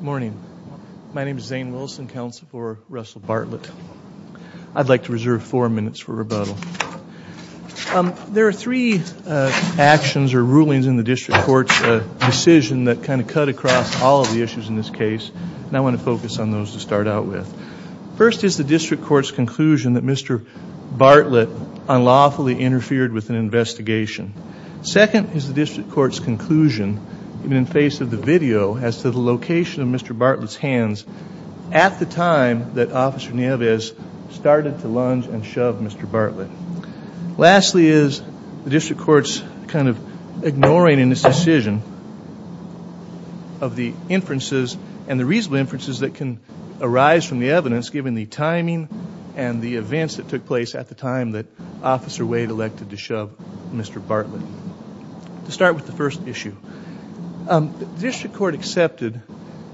Morning. My name is Zane Wilson, counsel for Russell Bartlett. I'd like to reserve four minutes for rebuttal. There are three actions or rulings in the district court's decision that kind of cut across all of the issues in this case. And I want to focus on those to start out with. First is the district court's conclusion that Mr. Bartlett unlawfully interfered with an investigation. Second is the district court's conclusion, even in face of the video, as to the location of Mr. Bartlett's hands at the time that Officer Nieves started to lunge and shove Mr. Bartlett. Lastly is the district court's kind of ignoring in this decision of the inferences and the reasonable inferences that can arise from the evidence given the timing and the events that took place at the time that Officer Wade elected to shove Mr. Bartlett. To start with the first issue, the district court accepted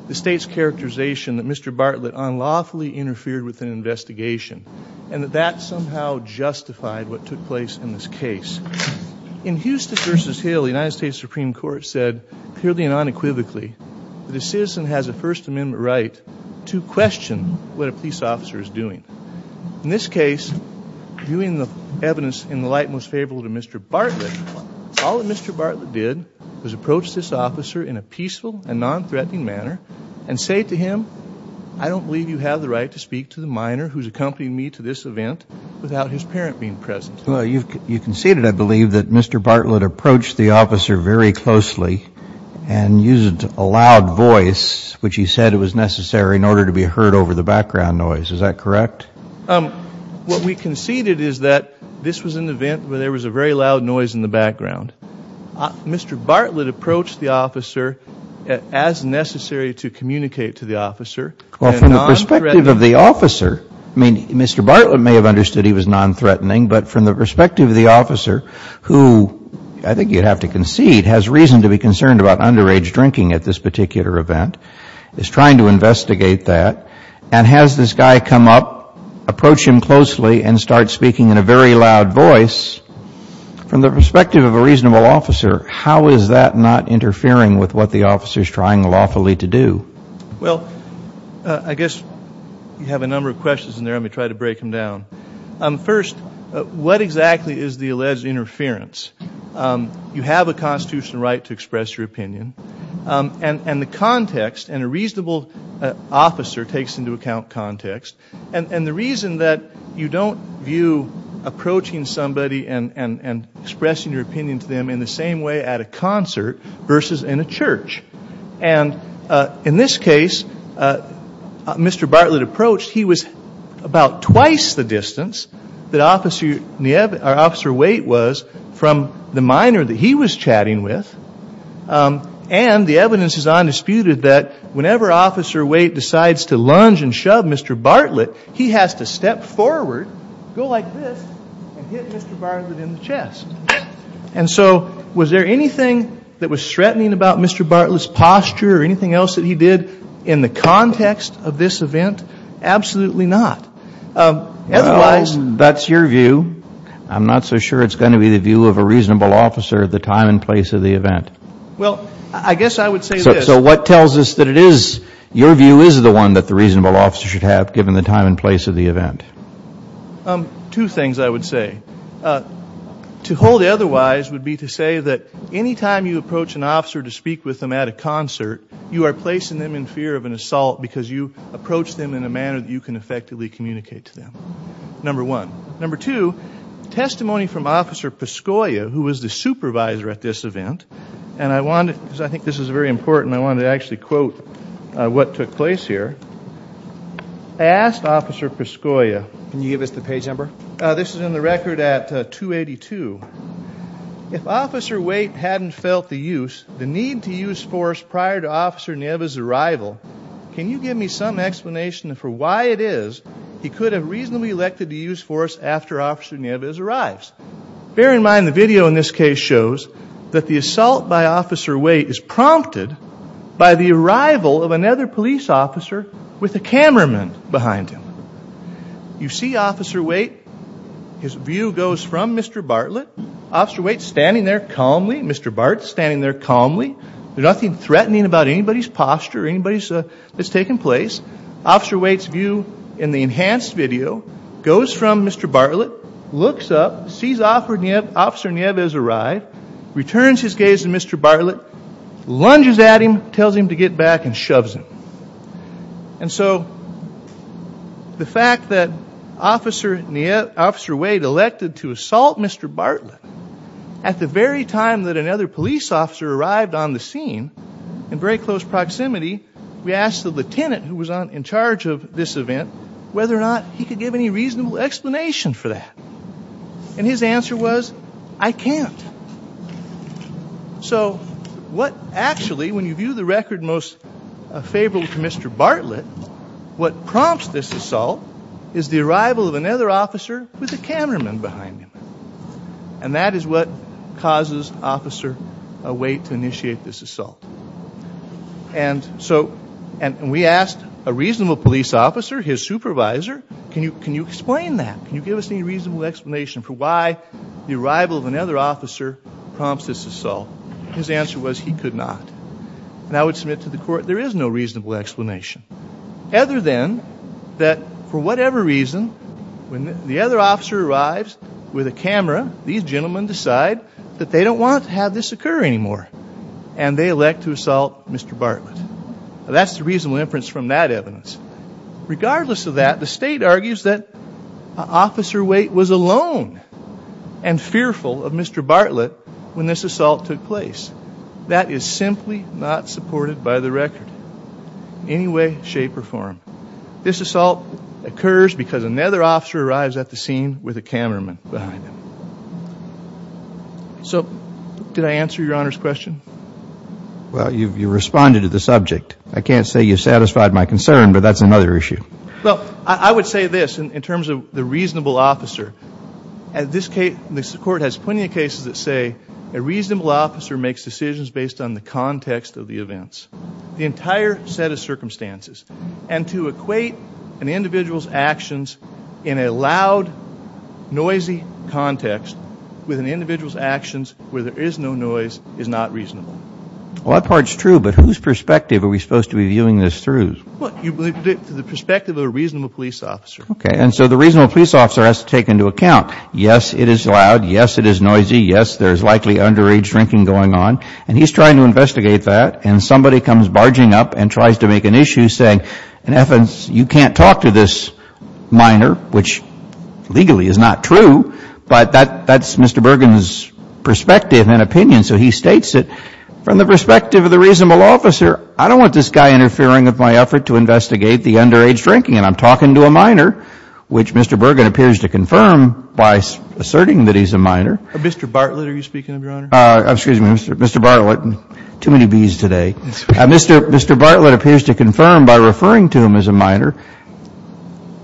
the state's characterization that Mr. Bartlett unlawfully interfered with an investigation and that that somehow justified what took place in this case. In Houston v. Hill, the United States Supreme Court said clearly and unequivocally that a citizen has a First Amendment right to question what a police officer is doing. In this case, viewing the evidence in the light most favorable to Mr. Bartlett, all that Mr. Bartlett did was approach this officer in a peaceful and nonthreatening manner and say to him, I don't believe you have the right to speak to the minor who's accompanying me to this event without his parent being present. Well, you conceded, I believe, that Mr. Bartlett approached the officer very closely and used a loud voice, which he said it was necessary in order to be heard over the background noise. Is that correct? What we conceded is that this was an event where there was a very loud noise in the background. Mr. Bartlett approached the officer as necessary to communicate to the officer. Well, from the perspective of the officer, I mean, Mr. Bartlett may have understood he was nonthreatening, but from the perspective of the officer, who I think you'd have to concede has reason to be concerned about underage drinking at this particular event, is trying to investigate that and has this guy come up, approach him closely and start speaking in a very loud voice. From the perspective of a reasonable officer, how is that not interfering with what the officer is trying lawfully to do? Well, I guess you have a number of questions in there. Let me try to break them down. First, what exactly is the alleged interference? You have a constitutional right to express your opinion. And the context, and a reasonable officer takes into account context, and the reason that you don't view approaching somebody and expressing your opinion to them in the same way at a concert versus in a church. And in this case, Mr. Bartlett approached. He was about twice the distance that Officer Waite was from the minor that he was chatting with. And the evidence is undisputed that whenever Officer Waite decides to lunge and shove Mr. Bartlett, he has to step forward, go like this, and hit Mr. Bartlett in the chest. And so was there anything that was threatening about Mr. Bartlett's posture or anything else that he did in the context of this event? Absolutely not. That's your view. I'm not so sure it's going to be the view of a reasonable officer at the time and place of the event. Well, I guess I would say this. So what tells us that it is your view is the one that the reasonable officer should have given the time and place of the event? Two things I would say. To hold otherwise would be to say that any time you approach an officer to speak with them at a concert, you are placing them in fear of an assault because you approach them in a manner that you can effectively communicate to them, number one. Number two, testimony from Officer Pascoia, who was the supervisor at this event, and I want to, because I think this is very important, I want to actually quote what took place here. I asked Officer Pascoia. Can you give us the page number? This is in the record at 282. If Officer Waite hadn't felt the use, the need to use force prior to Officer Nieves' arrival, can you give me some explanation for why it is he could have reasonably elected to use force after Officer Nieves arrives? Bear in mind the video in this case shows that the assault by Officer Waite is prompted by the arrival of another police officer with a cameraman behind him. You see Officer Waite. His view goes from Mr. Bartlett. Officer Waite's standing there calmly. Mr. Bart's standing there calmly. There's nothing threatening about anybody's posture or anybody that's taken place. Officer Waite's view in the enhanced video goes from Mr. Bartlett, looks up, sees Officer Nieves arrive, returns his gaze to Mr. Bartlett, lunges at him, tells him to get back, and shoves him. And so the fact that Officer Waite elected to assault Mr. Bartlett at the very time that another police officer arrived on the scene in very close proximity, we asked the lieutenant who was in charge of this event whether or not he could give any reasonable explanation for that. And his answer was, I can't. So what actually, when you view the record most favorable to Mr. Bartlett, what prompts this assault is the arrival of another officer with a cameraman behind him. And that is what causes Officer Waite to initiate this assault. And so we asked a reasonable police officer, his supervisor, can you explain that? Can you give us any reasonable explanation for why the arrival of another officer prompts this assault? His answer was he could not. And I would submit to the court there is no reasonable explanation, other than that for whatever reason, when the other officer arrives with a camera, these gentlemen decide that they don't want to have this occur anymore. And they elect to assault Mr. Bartlett. That's the reasonable inference from that evidence. Regardless of that, the state argues that Officer Waite was alone and fearful of Mr. Bartlett when this assault took place. That is simply not supported by the record. In any way, shape, or form. This assault occurs because another officer arrives at the scene with a cameraman behind him. So did I answer your Honor's question? Well, you responded to the subject. I can't say you satisfied my concern, but that's another issue. Well, I would say this in terms of the reasonable officer. The court has plenty of cases that say a reasonable officer makes decisions based on the context of the events. The entire set of circumstances. And to equate an individual's actions in a loud, noisy context with an individual's actions where there is no noise is not reasonable. Well, that part's true, but whose perspective are we supposed to be viewing this through? The perspective of a reasonable police officer. Okay. And so the reasonable police officer has to take into account, yes, it is loud. Yes, it is noisy. Yes, there is likely underage drinking going on. And he's trying to investigate that. And somebody comes barging up and tries to make an issue saying, in efforts, you can't talk to this minor, which legally is not true. But that's Mr. Bergen's perspective and opinion. So he states it from the perspective of the reasonable officer. I don't want this guy interfering with my effort to investigate the underage drinking. And I'm talking to a minor, which Mr. Bergen appears to confirm by asserting that he's a minor. Mr. Bartlett, are you speaking of, Your Honor? Excuse me, Mr. Bartlett. Too many Bs today. Mr. Bartlett appears to confirm by referring to him as a minor.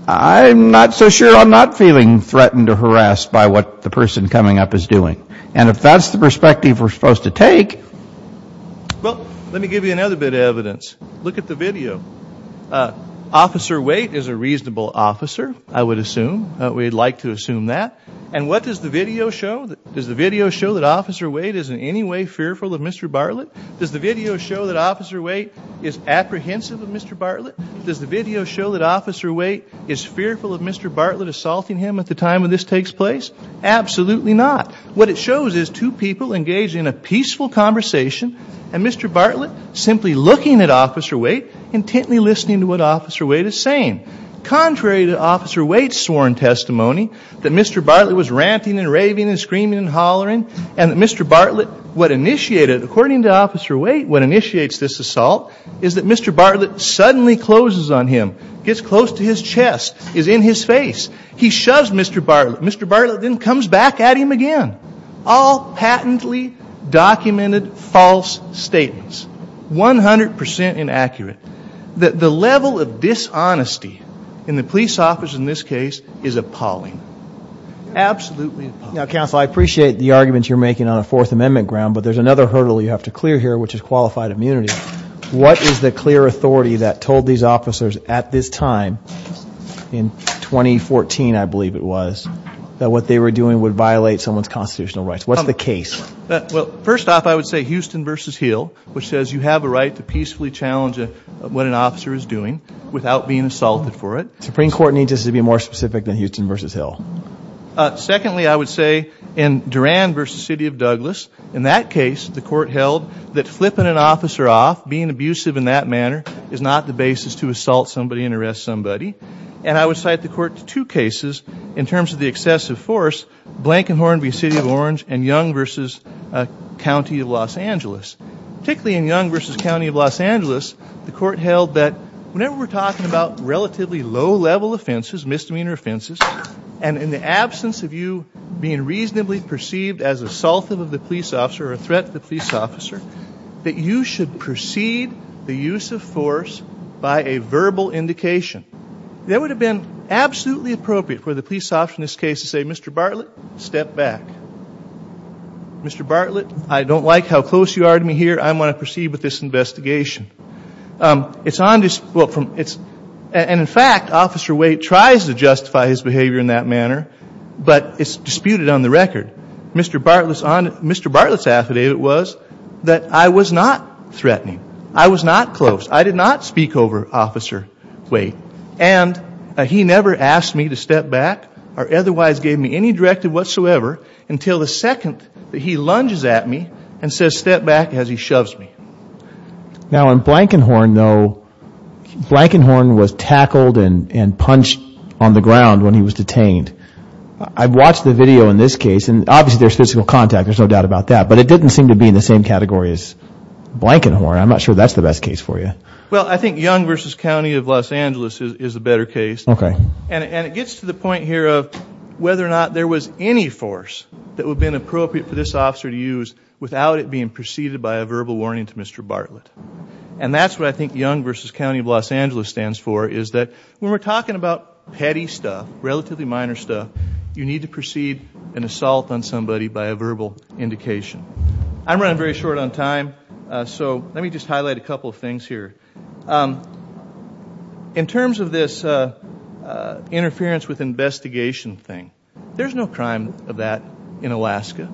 I'm not so sure I'm not feeling threatened or harassed by what the person coming up is doing. And if that's the perspective we're supposed to take. Well, let me give you another bit of evidence. Look at the video. Officer Waite is a reasonable officer, I would assume. We'd like to assume that. And what does the video show? Does the video show that Officer Waite is in any way fearful of Mr. Bartlett? Does the video show that Officer Waite is apprehensive of Mr. Bartlett? Does the video show that Officer Waite is fearful of Mr. Bartlett assaulting him at the time when this takes place? Absolutely not. What it shows is two people engaged in a peaceful conversation. And Mr. Bartlett simply looking at Officer Waite, intently listening to what Officer Waite is saying. Contrary to Officer Waite's sworn testimony, that Mr. Bartlett was ranting and raving and screaming and hollering. And that Mr. Bartlett, what initiated, according to Officer Waite, what initiates this assault. Is that Mr. Bartlett suddenly closes on him. Gets close to his chest. Is in his face. He shoves Mr. Bartlett. Mr. Bartlett then comes back at him again. All patently documented false statements. 100% inaccurate. The level of dishonesty in the police office in this case is appalling. Absolutely appalling. Now, Counsel, I appreciate the arguments you're making on a Fourth Amendment ground. But there's another hurdle you have to clear here, which is qualified immunity. What is the clear authority that told these officers at this time, in 2014, I believe it was, that what they were doing would violate someone's constitutional rights? What's the case? Well, first off, I would say Houston v. Hill, which says you have a right to peacefully challenge what an officer is doing without being assaulted for it. Supreme Court needs us to be more specific than Houston v. Hill. Secondly, I would say in Duran v. City of Douglas, in that case the court held that flipping an officer off, being abusive in that manner, is not the basis to assault somebody and arrest somebody. And I would cite the court to two cases in terms of the excessive force, Blankenhorn v. City of Orange, and Young v. County of Los Angeles. Particularly in Young v. County of Los Angeles, the court held that whenever we're talking about relatively low-level offenses, misdemeanor offenses, and in the absence of you being reasonably perceived as assaultive of the police officer or a threat to the police officer, that you should precede the use of force by a verbal indication. That would have been absolutely appropriate for the police officer in this case to say, Mr. Bartlett, step back. Mr. Bartlett, I don't like how close you are to me here. I want to proceed with this investigation. And in fact, Officer Waite tries to justify his behavior in that manner, but it's disputed on the record. Mr. Bartlett's affidavit was that I was not threatening. I was not close. I did not speak over Officer Waite. And he never asked me to step back or otherwise gave me any directive whatsoever until the second that he lunges at me and says step back as he shoves me. Now in Blankenhorn, though, Blankenhorn was tackled and punched on the ground when he was detained. I've watched the video in this case, and obviously there's physical contact, there's no doubt about that. But it didn't seem to be in the same category as Blankenhorn. I'm not sure that's the best case for you. Well, I think Young v. County of Los Angeles is a better case. Okay. And it gets to the point here of whether or not there was any force that would have been appropriate for this officer to use without it being preceded by a verbal warning to Mr. Bartlett. And that's what I think Young v. County of Los Angeles stands for, is that when we're talking about petty stuff, relatively minor stuff, you need to precede an assault on somebody by a verbal indication. I'm running very short on time, so let me just highlight a couple of things here. In terms of this interference with investigation thing, there's no crime of that in Alaska.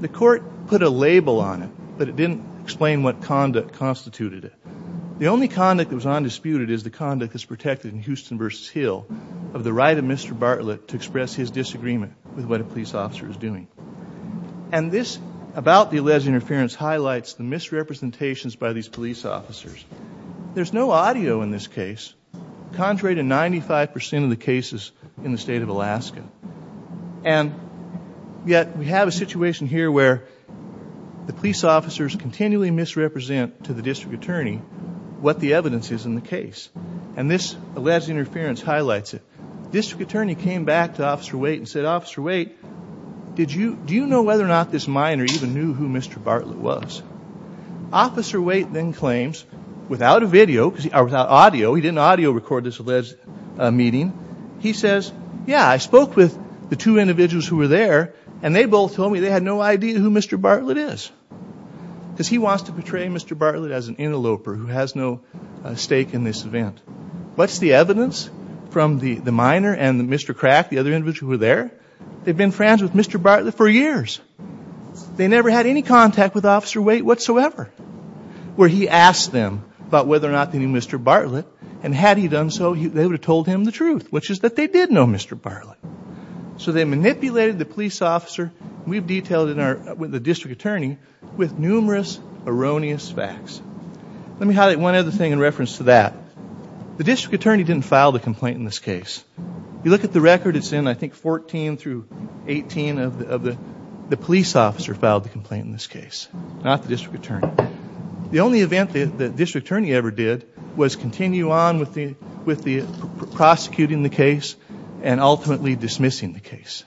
The court put a label on it, but it didn't explain what conduct constituted it. The only conduct that was undisputed is the conduct that's protected in Houston v. Hill of the right of Mr. Bartlett to express his disagreement with what a police officer is doing. And this, about the alleged interference, highlights the misrepresentations by these police officers. There's no audio in this case, contrary to 95% of the cases in the state of Alaska. And yet we have a situation here where the police officers continually misrepresent to the district attorney what the evidence is in the case. And this alleged interference highlights it. The district attorney came back to Officer Waite and said, Officer Waite, do you know whether or not this minor even knew who Mr. Bartlett was? Officer Waite then claims, without audio, he didn't audio record this alleged meeting, he says, yeah, I spoke with the two individuals who were there, and they both told me they had no idea who Mr. Bartlett is. Because he wants to portray Mr. Bartlett as an interloper who has no stake in this event. What's the evidence from the minor and Mr. Crack, the other individuals who were there? They've been friends with Mr. Bartlett for years. They never had any contact with Officer Waite whatsoever. Where he asked them about whether or not they knew Mr. Bartlett, and had he done so, they would have told him the truth, which is that they did know Mr. Bartlett. So they manipulated the police officer, and we've detailed it with the district attorney, with numerous erroneous facts. Let me highlight one other thing in reference to that. The district attorney didn't file the complaint in this case. If you look at the record, it's in, I think, 14 through 18 of the police officer filed the complaint in this case, not the district attorney. The only event the district attorney ever did was continue on with the prosecuting the case and ultimately dismissing the case.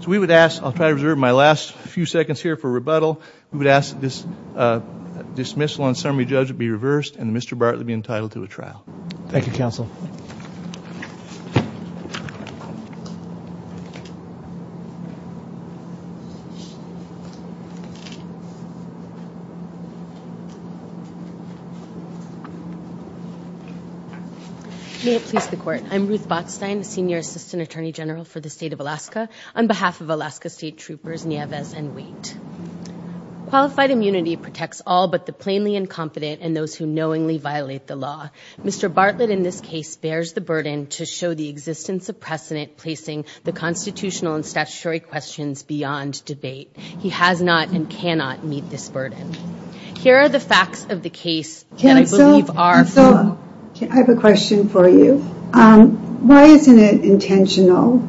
So we would ask, I'll try to reserve my last few seconds here for rebuttal, we would ask that this dismissal on summary judge be reversed and Mr. Bartlett be entitled to a trial. Thank you, counsel. May it please the Court. I'm Ruth Botstein, Senior Assistant Attorney General for the State of Alaska, on behalf of Alaska State Troopers Nieves and Waite. Qualified immunity protects all but the plainly incompetent and those who knowingly violate the law. Mr. Bartlett, in this case, bears the burden to show the existence of precedent, placing the constitutional and statutory questions beyond debate. He has not and cannot meet this burden. Here are the facts of the case that I believe are true. Counsel, I have a question for you. Why isn't it intentional,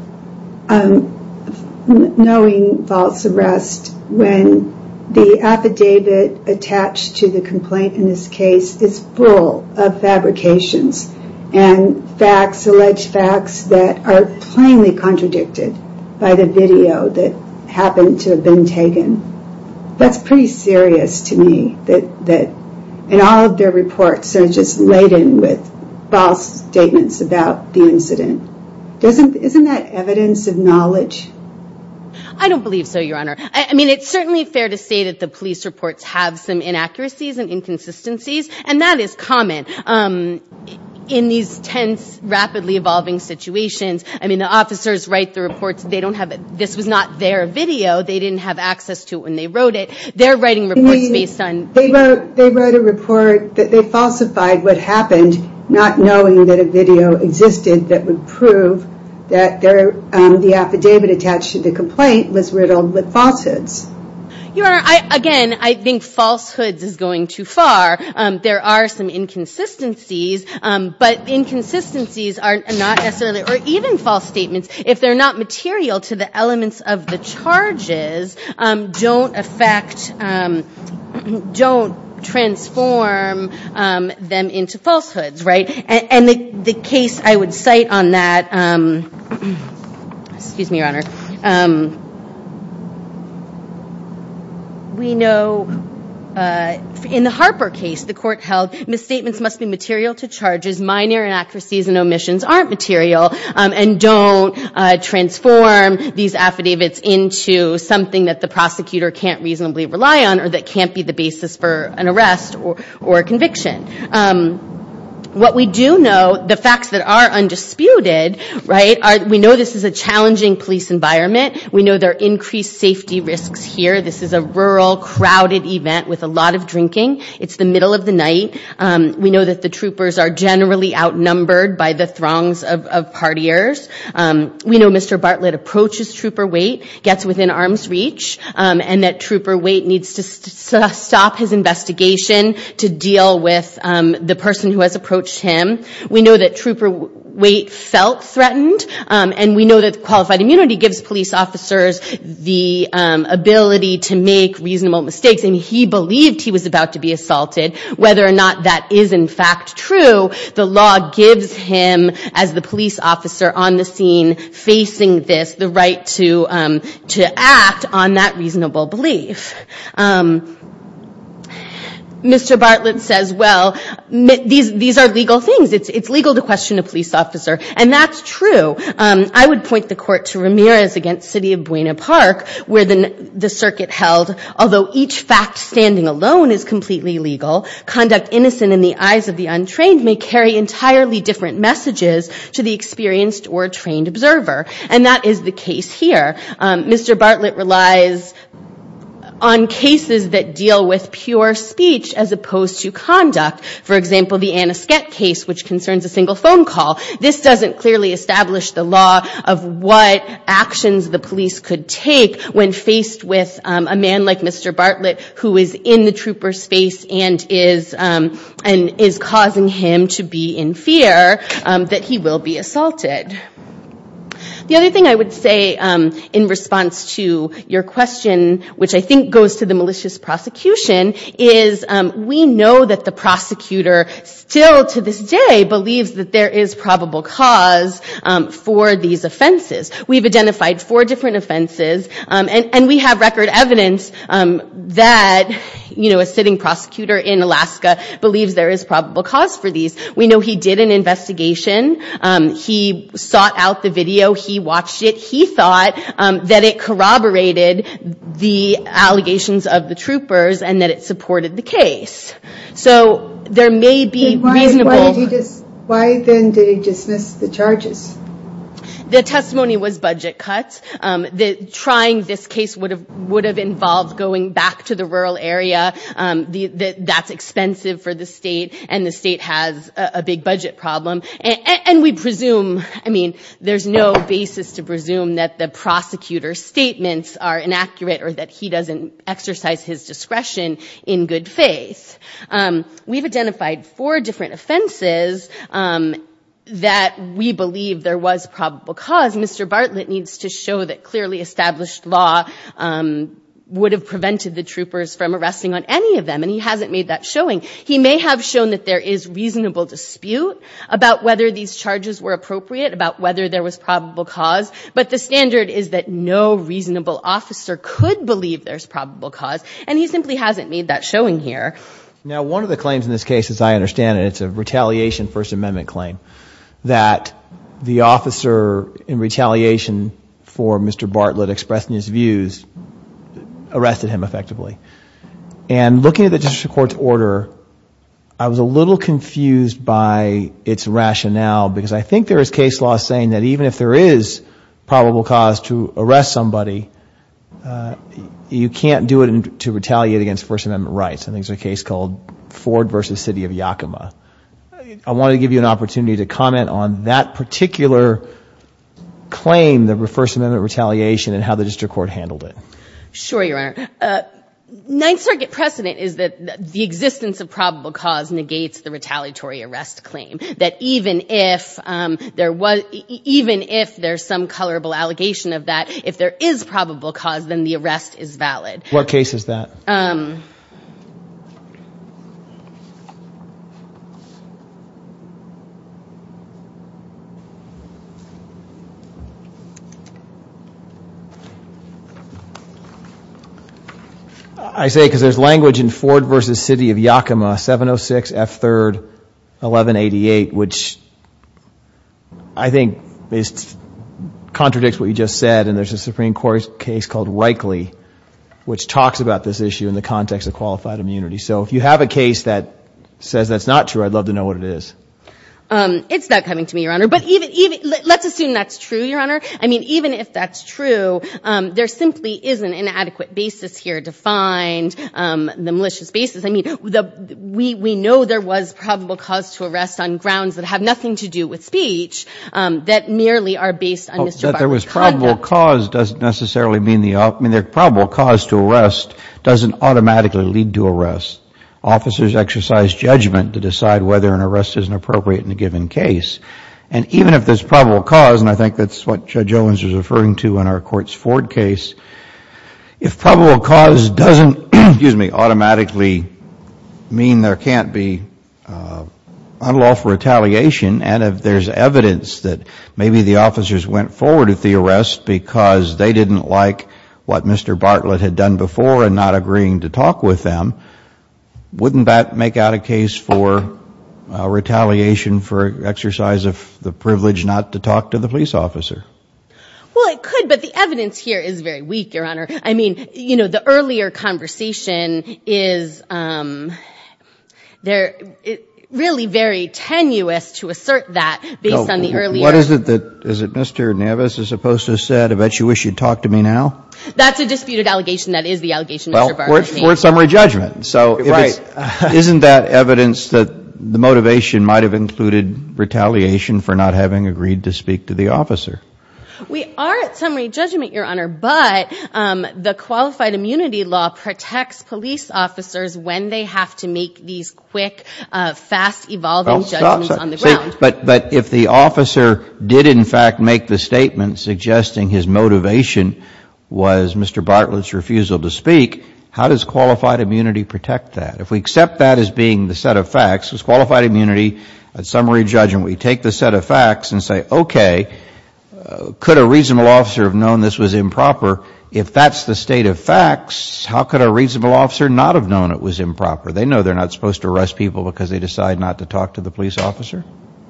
knowing false arrest, when the affidavit attached to the complaint in this case is full of fabrications and facts, alleged facts, that are plainly contradicted by the video that happened to have been taken? That's pretty serious to me. And all of their reports are just laden with false statements about the incident. Isn't that evidence of knowledge? I don't believe so, Your Honor. I mean, it's certainly fair to say that the police reports have some inaccuracies and inconsistencies, and that is common in these tense, rapidly evolving situations. I mean, the officers write the reports. This was not their video. They didn't have access to it when they wrote it. They're writing reports based on the video. They wrote a report that they falsified what happened, not knowing that a video existed that would prove that the affidavit attached to the complaint was riddled with falsehoods. Your Honor, again, I think falsehoods is going too far. There are some inconsistencies, but inconsistencies are not necessarily, or even false statements, if they're not material to the elements of the charges, don't affect, don't transform them into falsehoods, right? And the case I would cite on that, excuse me, Your Honor, we know in the Harper case, the court held misstatements must be material to charges, and these minor inaccuracies and omissions aren't material, and don't transform these affidavits into something that the prosecutor can't reasonably rely on, or that can't be the basis for an arrest or conviction. What we do know, the facts that are undisputed, right? We know this is a challenging police environment. We know there are increased safety risks here. This is a rural, crowded event with a lot of drinking. It's the middle of the night. We know that the troopers are generally outnumbered by the throngs of partiers. We know Mr. Bartlett approaches Trooper Waite, gets within arm's reach, and that Trooper Waite needs to stop his investigation to deal with the person who has approached him. We know that Trooper Waite felt threatened, and we know that qualified immunity gives police officers the ability to make reasonable mistakes, and he believed he was about to be assaulted. Whether or not that is in fact true, the law gives him, as the police officer on the scene facing this, the right to act on that reasonable belief. Mr. Bartlett says, well, these are legal things. It's legal to question a police officer, and that's true. I would point the court to Ramirez against City of Buena Park, where the circuit held, although each fact standing alone is completely legal, conduct innocent in the eyes of the untrained may carry entirely different messages to the experienced or trained observer, and that is the case here. Mr. Bartlett relies on cases that deal with pure speech as opposed to conduct. For example, the Anna Skett case, which concerns a single phone call. This doesn't clearly establish the law of what actions the police could take when faced with a man like Mr. Bartlett, who is in the trooper's face and is causing him to be in fear that he will be assaulted. The other thing I would say in response to your question, which I think goes to the malicious prosecution, is we know that the prosecutor still to this day believes that there is probable cause for these offenses. We've identified four different offenses, and we have record evidence that, you know, a sitting prosecutor in Alaska believes there is probable cause for these. We know he did an investigation. He sought out the video. He watched it. He thought that it corroborated the allegations of the troopers and that it supported the case. So there may be reasonable. Why then did he dismiss the charges? The testimony was budget cuts. Trying this case would have involved going back to the rural area. That's expensive for the state, and the state has a big budget problem. And we presume, I mean, there's no basis to presume that the prosecutor's statements are inaccurate or that he doesn't exercise his discretion in good faith. We've identified four different offenses that we believe there was probable cause. Mr. Bartlett needs to show that clearly established law would have prevented the troopers from arresting on any of them, and he hasn't made that showing. He may have shown that there is reasonable dispute about whether these charges were appropriate, about whether there was probable cause, but the standard is that no reasonable officer could believe there's probable cause, and he simply hasn't made that showing here. Now, one of the claims in this case, as I understand it, it's a retaliation First Amendment claim, that the officer in retaliation for Mr. Bartlett expressing his views arrested him effectively. And looking at the district court's order, I was a little confused by its rationale, because I think there is case law saying that even if there is probable cause to arrest somebody, you can't do it to retaliate against First Amendment rights. I think it's a case called Ford v. City of Yakima. I wanted to give you an opportunity to comment on that particular claim, the First Amendment retaliation and how the district court handled it. Sure, Your Honor. Ninth Circuit precedent is that the existence of probable cause negates the retaliatory arrest claim, that even if there's some colorable allegation of that, if there is probable cause, then the arrest is valid. What case is that? I say it because there's language in Ford v. City of Yakima, 706 F. 3rd, 1188, which I think contradicts what you just said, and there's a Supreme Court case called Wrightley, which talks about this issue in the context of qualified immunity. So if you have a case that says that's not true, I'd love to know what it is. It's not coming to me, Your Honor. But let's assume that's true, Your Honor. I mean, even if that's true, there simply isn't an adequate basis here to find the malicious basis. I mean, we know there was probable cause to arrest on grounds that have nothing to do with speech that merely are based on misdemeanor conduct. Oh, that there was probable cause doesn't necessarily mean the opposite. I mean, probable cause to arrest doesn't automatically lead to arrest. Officers exercise judgment to decide whether an arrest is appropriate in a given case. And even if there's probable cause, and I think that's what Judge Owens was referring to in our courts Ford case, if probable cause doesn't automatically mean there can't be unlawful retaliation and if there's evidence that maybe the officers went forward with the arrest because they didn't like what Mr. Bartlett had done before and not agreeing to talk with them, wouldn't that make out a case for retaliation for exercise of the privilege not to talk to the police officer? Well, it could, but the evidence here is very weak, Your Honor. I mean, you know, the earlier conversation is really very tenuous to assert that based on the earlier— What is it that Mr. Navis is supposed to have said? I bet you wish you'd talk to me now. That's a disputed allegation. Well, we're at summary judgment. Isn't that evidence that the motivation might have included retaliation for not having agreed to speak to the officer? We are at summary judgment, Your Honor, but the qualified immunity law protects police officers when they have to make these quick, fast, evolving judgments on the ground. But if the officer did, in fact, make the statement suggesting his motivation was Mr. Bartlett's refusal to speak, how does qualified immunity protect that? If we accept that as being the set of facts, it's qualified immunity at summary judgment. We take the set of facts and say, okay, could a reasonable officer have known this was improper? If that's the state of facts, how could a reasonable officer not have known it was improper? They know they're not supposed to arrest people because they decide not to talk to the police officer?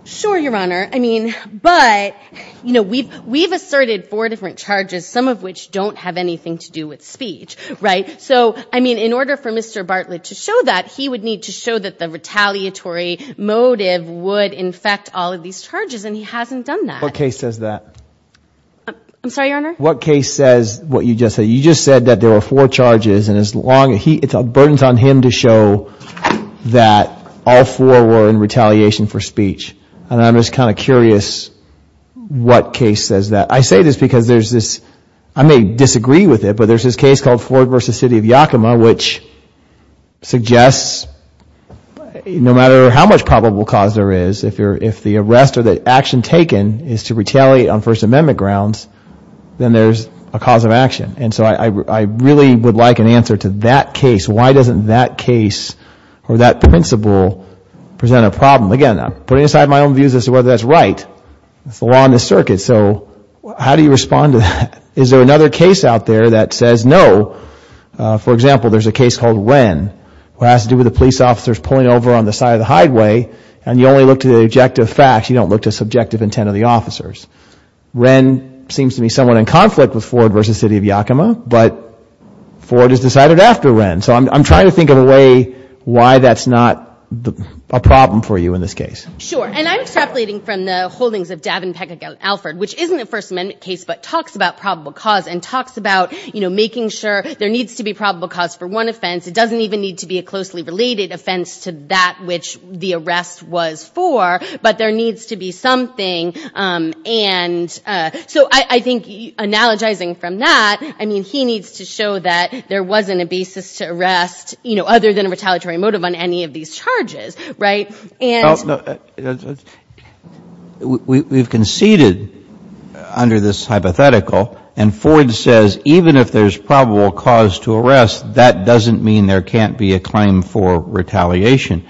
Sure, Your Honor. I mean, but, you know, we've asserted four different charges, some of which don't have anything to do with speech, right? So, I mean, in order for Mr. Bartlett to show that, he would need to show that the retaliatory motive would infect all of these charges, and he hasn't done that. What case says that? I'm sorry, Your Honor? What case says what you just said? You just said that there were four charges, and it's burdens on him to show that all four were in retaliation for speech. And I'm just kind of curious what case says that. I say this because there's this, I may disagree with it, but there's this case called Ford v. City of Yakima, which suggests no matter how much probable cause there is, if the arrest or the action taken is to retaliate on First Amendment grounds, then there's a cause of action. And so I really would like an answer to that case. Why doesn't that case or that principle present a problem? Again, I'm putting aside my own views as to whether that's right. It's the law and the circuit, so how do you respond to that? Is there another case out there that says no? For example, there's a case called Wren, which has to do with the police officers pulling over on the side of the highway, and you only look to the objective facts. You don't look to subjective intent of the officers. Wren seems to be somewhat in conflict with Ford v. City of Yakima, but Ford has decided after Wren. So I'm trying to think of a way why that's not a problem for you in this case. Sure. And I'm extrapolating from the holdings of Davin, Peck, and Alford, which isn't a First Amendment case, but talks about probable cause and talks about, you know, making sure there needs to be probable cause for one offense. It doesn't even need to be a closely related offense to that which the arrest was for, but there needs to be something, and so I think analogizing from that, I mean he needs to show that there wasn't a basis to arrest, you know, other than a retaliatory motive on any of these charges, right? And we've conceded under this hypothetical, and Ford says even if there's probable cause to arrest, that doesn't mean there can't be a claim for retaliation.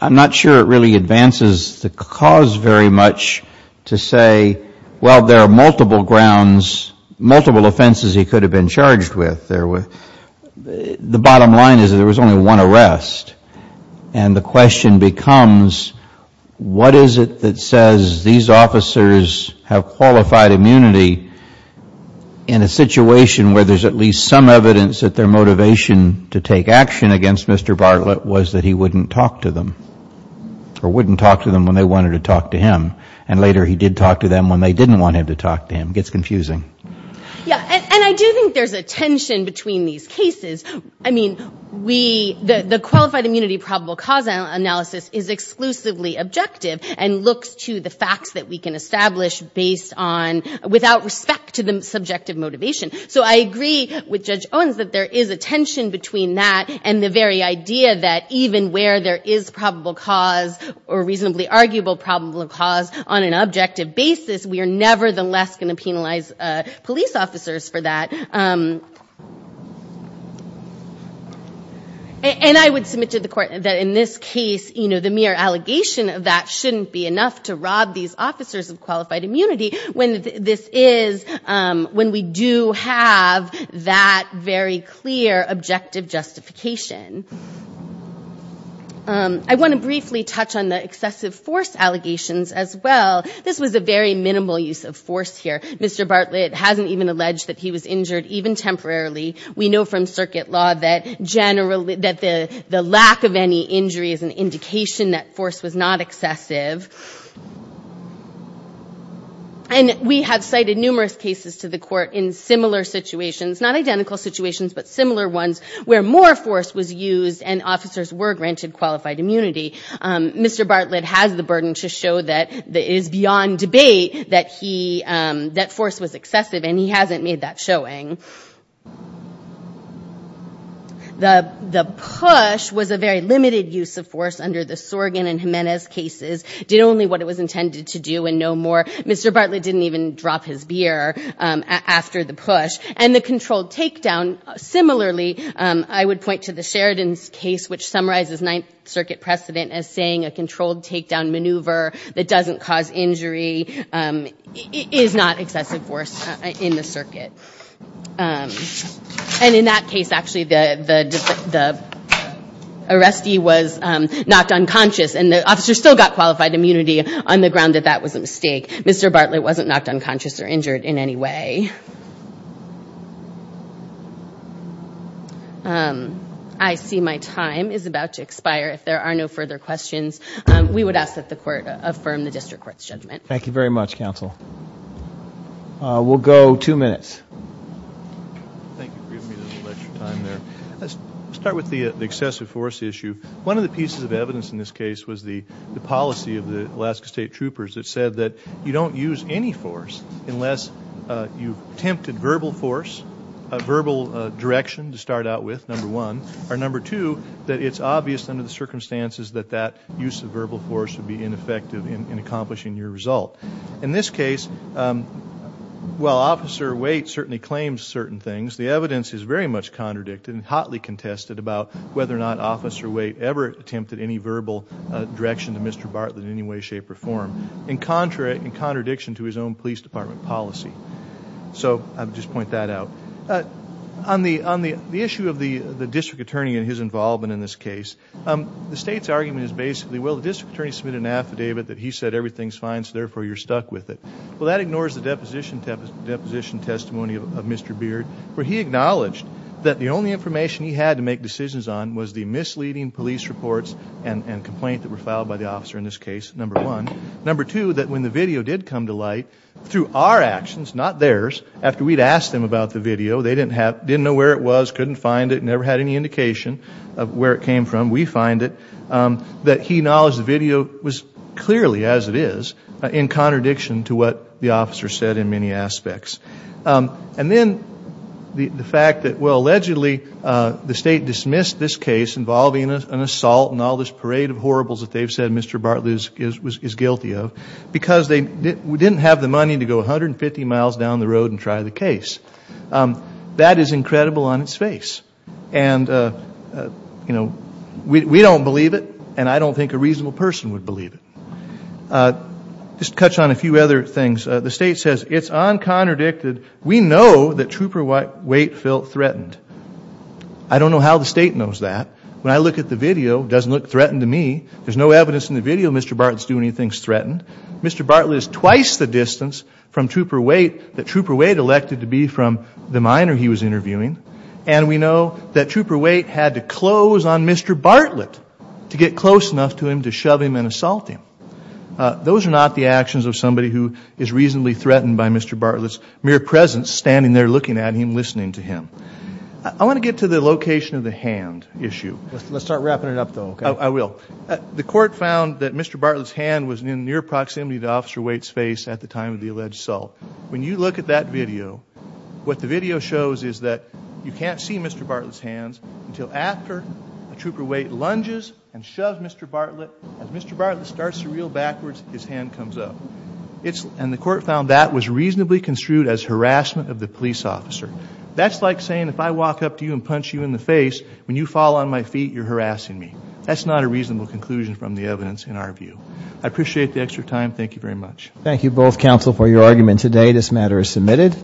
I'm not sure it really advances the cause very much to say, well, there are multiple grounds, multiple offenses he could have been charged with. The bottom line is there was only one arrest, and the question becomes, what is it that says these officers have qualified immunity in a situation where there's at least some evidence that their motivation to take action against Mr. Bartlett was that he wouldn't talk to them, or wouldn't talk to them when they wanted to talk to him, and later he did talk to them when they didn't want him to talk to him. It gets confusing. Yeah, and I do think there's a tension between these cases. I mean, the qualified immunity probable cause analysis is exclusively objective and looks to the facts that we can establish based on, without respect to the subjective motivation. So I agree with Judge Owens that there is a tension between that and the very idea that even where there is probable cause or reasonably arguable probable cause on an objective basis, we are nevertheless going to penalize police officers for that. And I would submit to the court that in this case, you know, the mere allegation of that shouldn't be enough to rob these officers of qualified immunity when we do have that very clear objective justification. I want to briefly touch on the excessive force allegations as well. This was a very minimal use of force here. Mr. Bartlett hasn't even alleged that he was injured, even temporarily. We know from circuit law that the lack of any injury is an indication that force was not excessive. And we have cited numerous cases to the court in similar situations, not identical situations, but similar ones where more force was used and officers were granted qualified immunity. Mr. Bartlett has the burden to show that it is beyond debate that force was excessive, and he hasn't made that showing. The push was a very limited use of force under the Sorgan and Jimenez cases, did only what it was intended to do and no more. Mr. Bartlett didn't even drop his beer after the push. And the controlled takedown, similarly, I would point to the Sheridan's case, which summarizes Ninth Circuit precedent as saying a controlled takedown maneuver that doesn't cause injury is not excessive force in the circuit. And in that case, actually, the arrestee was knocked unconscious and the officer still got qualified immunity on the ground that that was a mistake. Mr. Bartlett wasn't knocked unconscious or injured in any way. Okay. I see my time is about to expire. If there are no further questions, we would ask that the court affirm the district court's judgment. Thank you very much, counsel. We'll go two minutes. Thank you for giving me a little extra time there. Let's start with the excessive force issue. One of the pieces of evidence in this case was the policy of the Alaska State Troopers that said that you don't use any force unless you've attempted verbal force, verbal direction to start out with, number one, or number two, that it's obvious under the circumstances that that use of verbal force would be ineffective in accomplishing your result. In this case, while Officer Waite certainly claims certain things, the evidence is very much contradicted and hotly contested about whether or not Officer Waite ever attempted any verbal direction to Mr. Bartlett in any way, shape, or form, in contradiction to his own police department policy. So I would just point that out. On the issue of the district attorney and his involvement in this case, the State's argument is basically, well, the district attorney submitted an affidavit that he said everything's fine, so therefore you're stuck with it. Well, that ignores the deposition testimony of Mr. Beard, where he acknowledged that the only information he had to make decisions on was the misleading police reports and complaint that were filed by the officer in this case, number one. Number two, that when the video did come to light, through our actions, not theirs, after we'd asked them about the video, they didn't know where it was, couldn't find it, never had any indication of where it came from, we find it, that he acknowledged the video was clearly, as it is, in contradiction to what the officer said in many aspects. And then the fact that, well, allegedly the State dismissed this case involving an assault and all this parade of horribles that they've said Mr. Bartlett is guilty of, because they didn't have the money to go 150 miles down the road and try the case. That is incredible on its face. And, you know, we don't believe it, and I don't think a reasonable person would believe it. Just to touch on a few other things, the State says it's uncontradicted, we know that Trooper Waite felt threatened. I don't know how the State knows that. When I look at the video, it doesn't look threatened to me. There's no evidence in the video that Mr. Bartlett is doing anything that's threatened. Mr. Bartlett is twice the distance from Trooper Waite that Trooper Waite elected to be from the minor he was interviewing. And we know that Trooper Waite had to close on Mr. Bartlett to get close enough to him to shove him and assault him. Those are not the actions of somebody who is reasonably threatened by Mr. Bartlett's mere presence, standing there looking at him, listening to him. I want to get to the location of the hand issue. Let's start wrapping it up, though, okay? I will. The court found that Mr. Bartlett's hand was in near proximity to Officer Waite's face at the time of the alleged assault. When you look at that video, what the video shows is that you can't see Mr. Bartlett's hands until after Trooper Waite lunges and shoves Mr. Bartlett. As Mr. Bartlett starts to reel backwards, his hand comes up. And the court found that was reasonably construed as harassment of the police officer. That's like saying if I walk up to you and punch you in the face, when you fall on my feet, you're harassing me. That's not a reasonable conclusion from the evidence in our view. I appreciate the extra time. Thank you very much. Thank you both, counsel, for your argument today. This matter is submitted.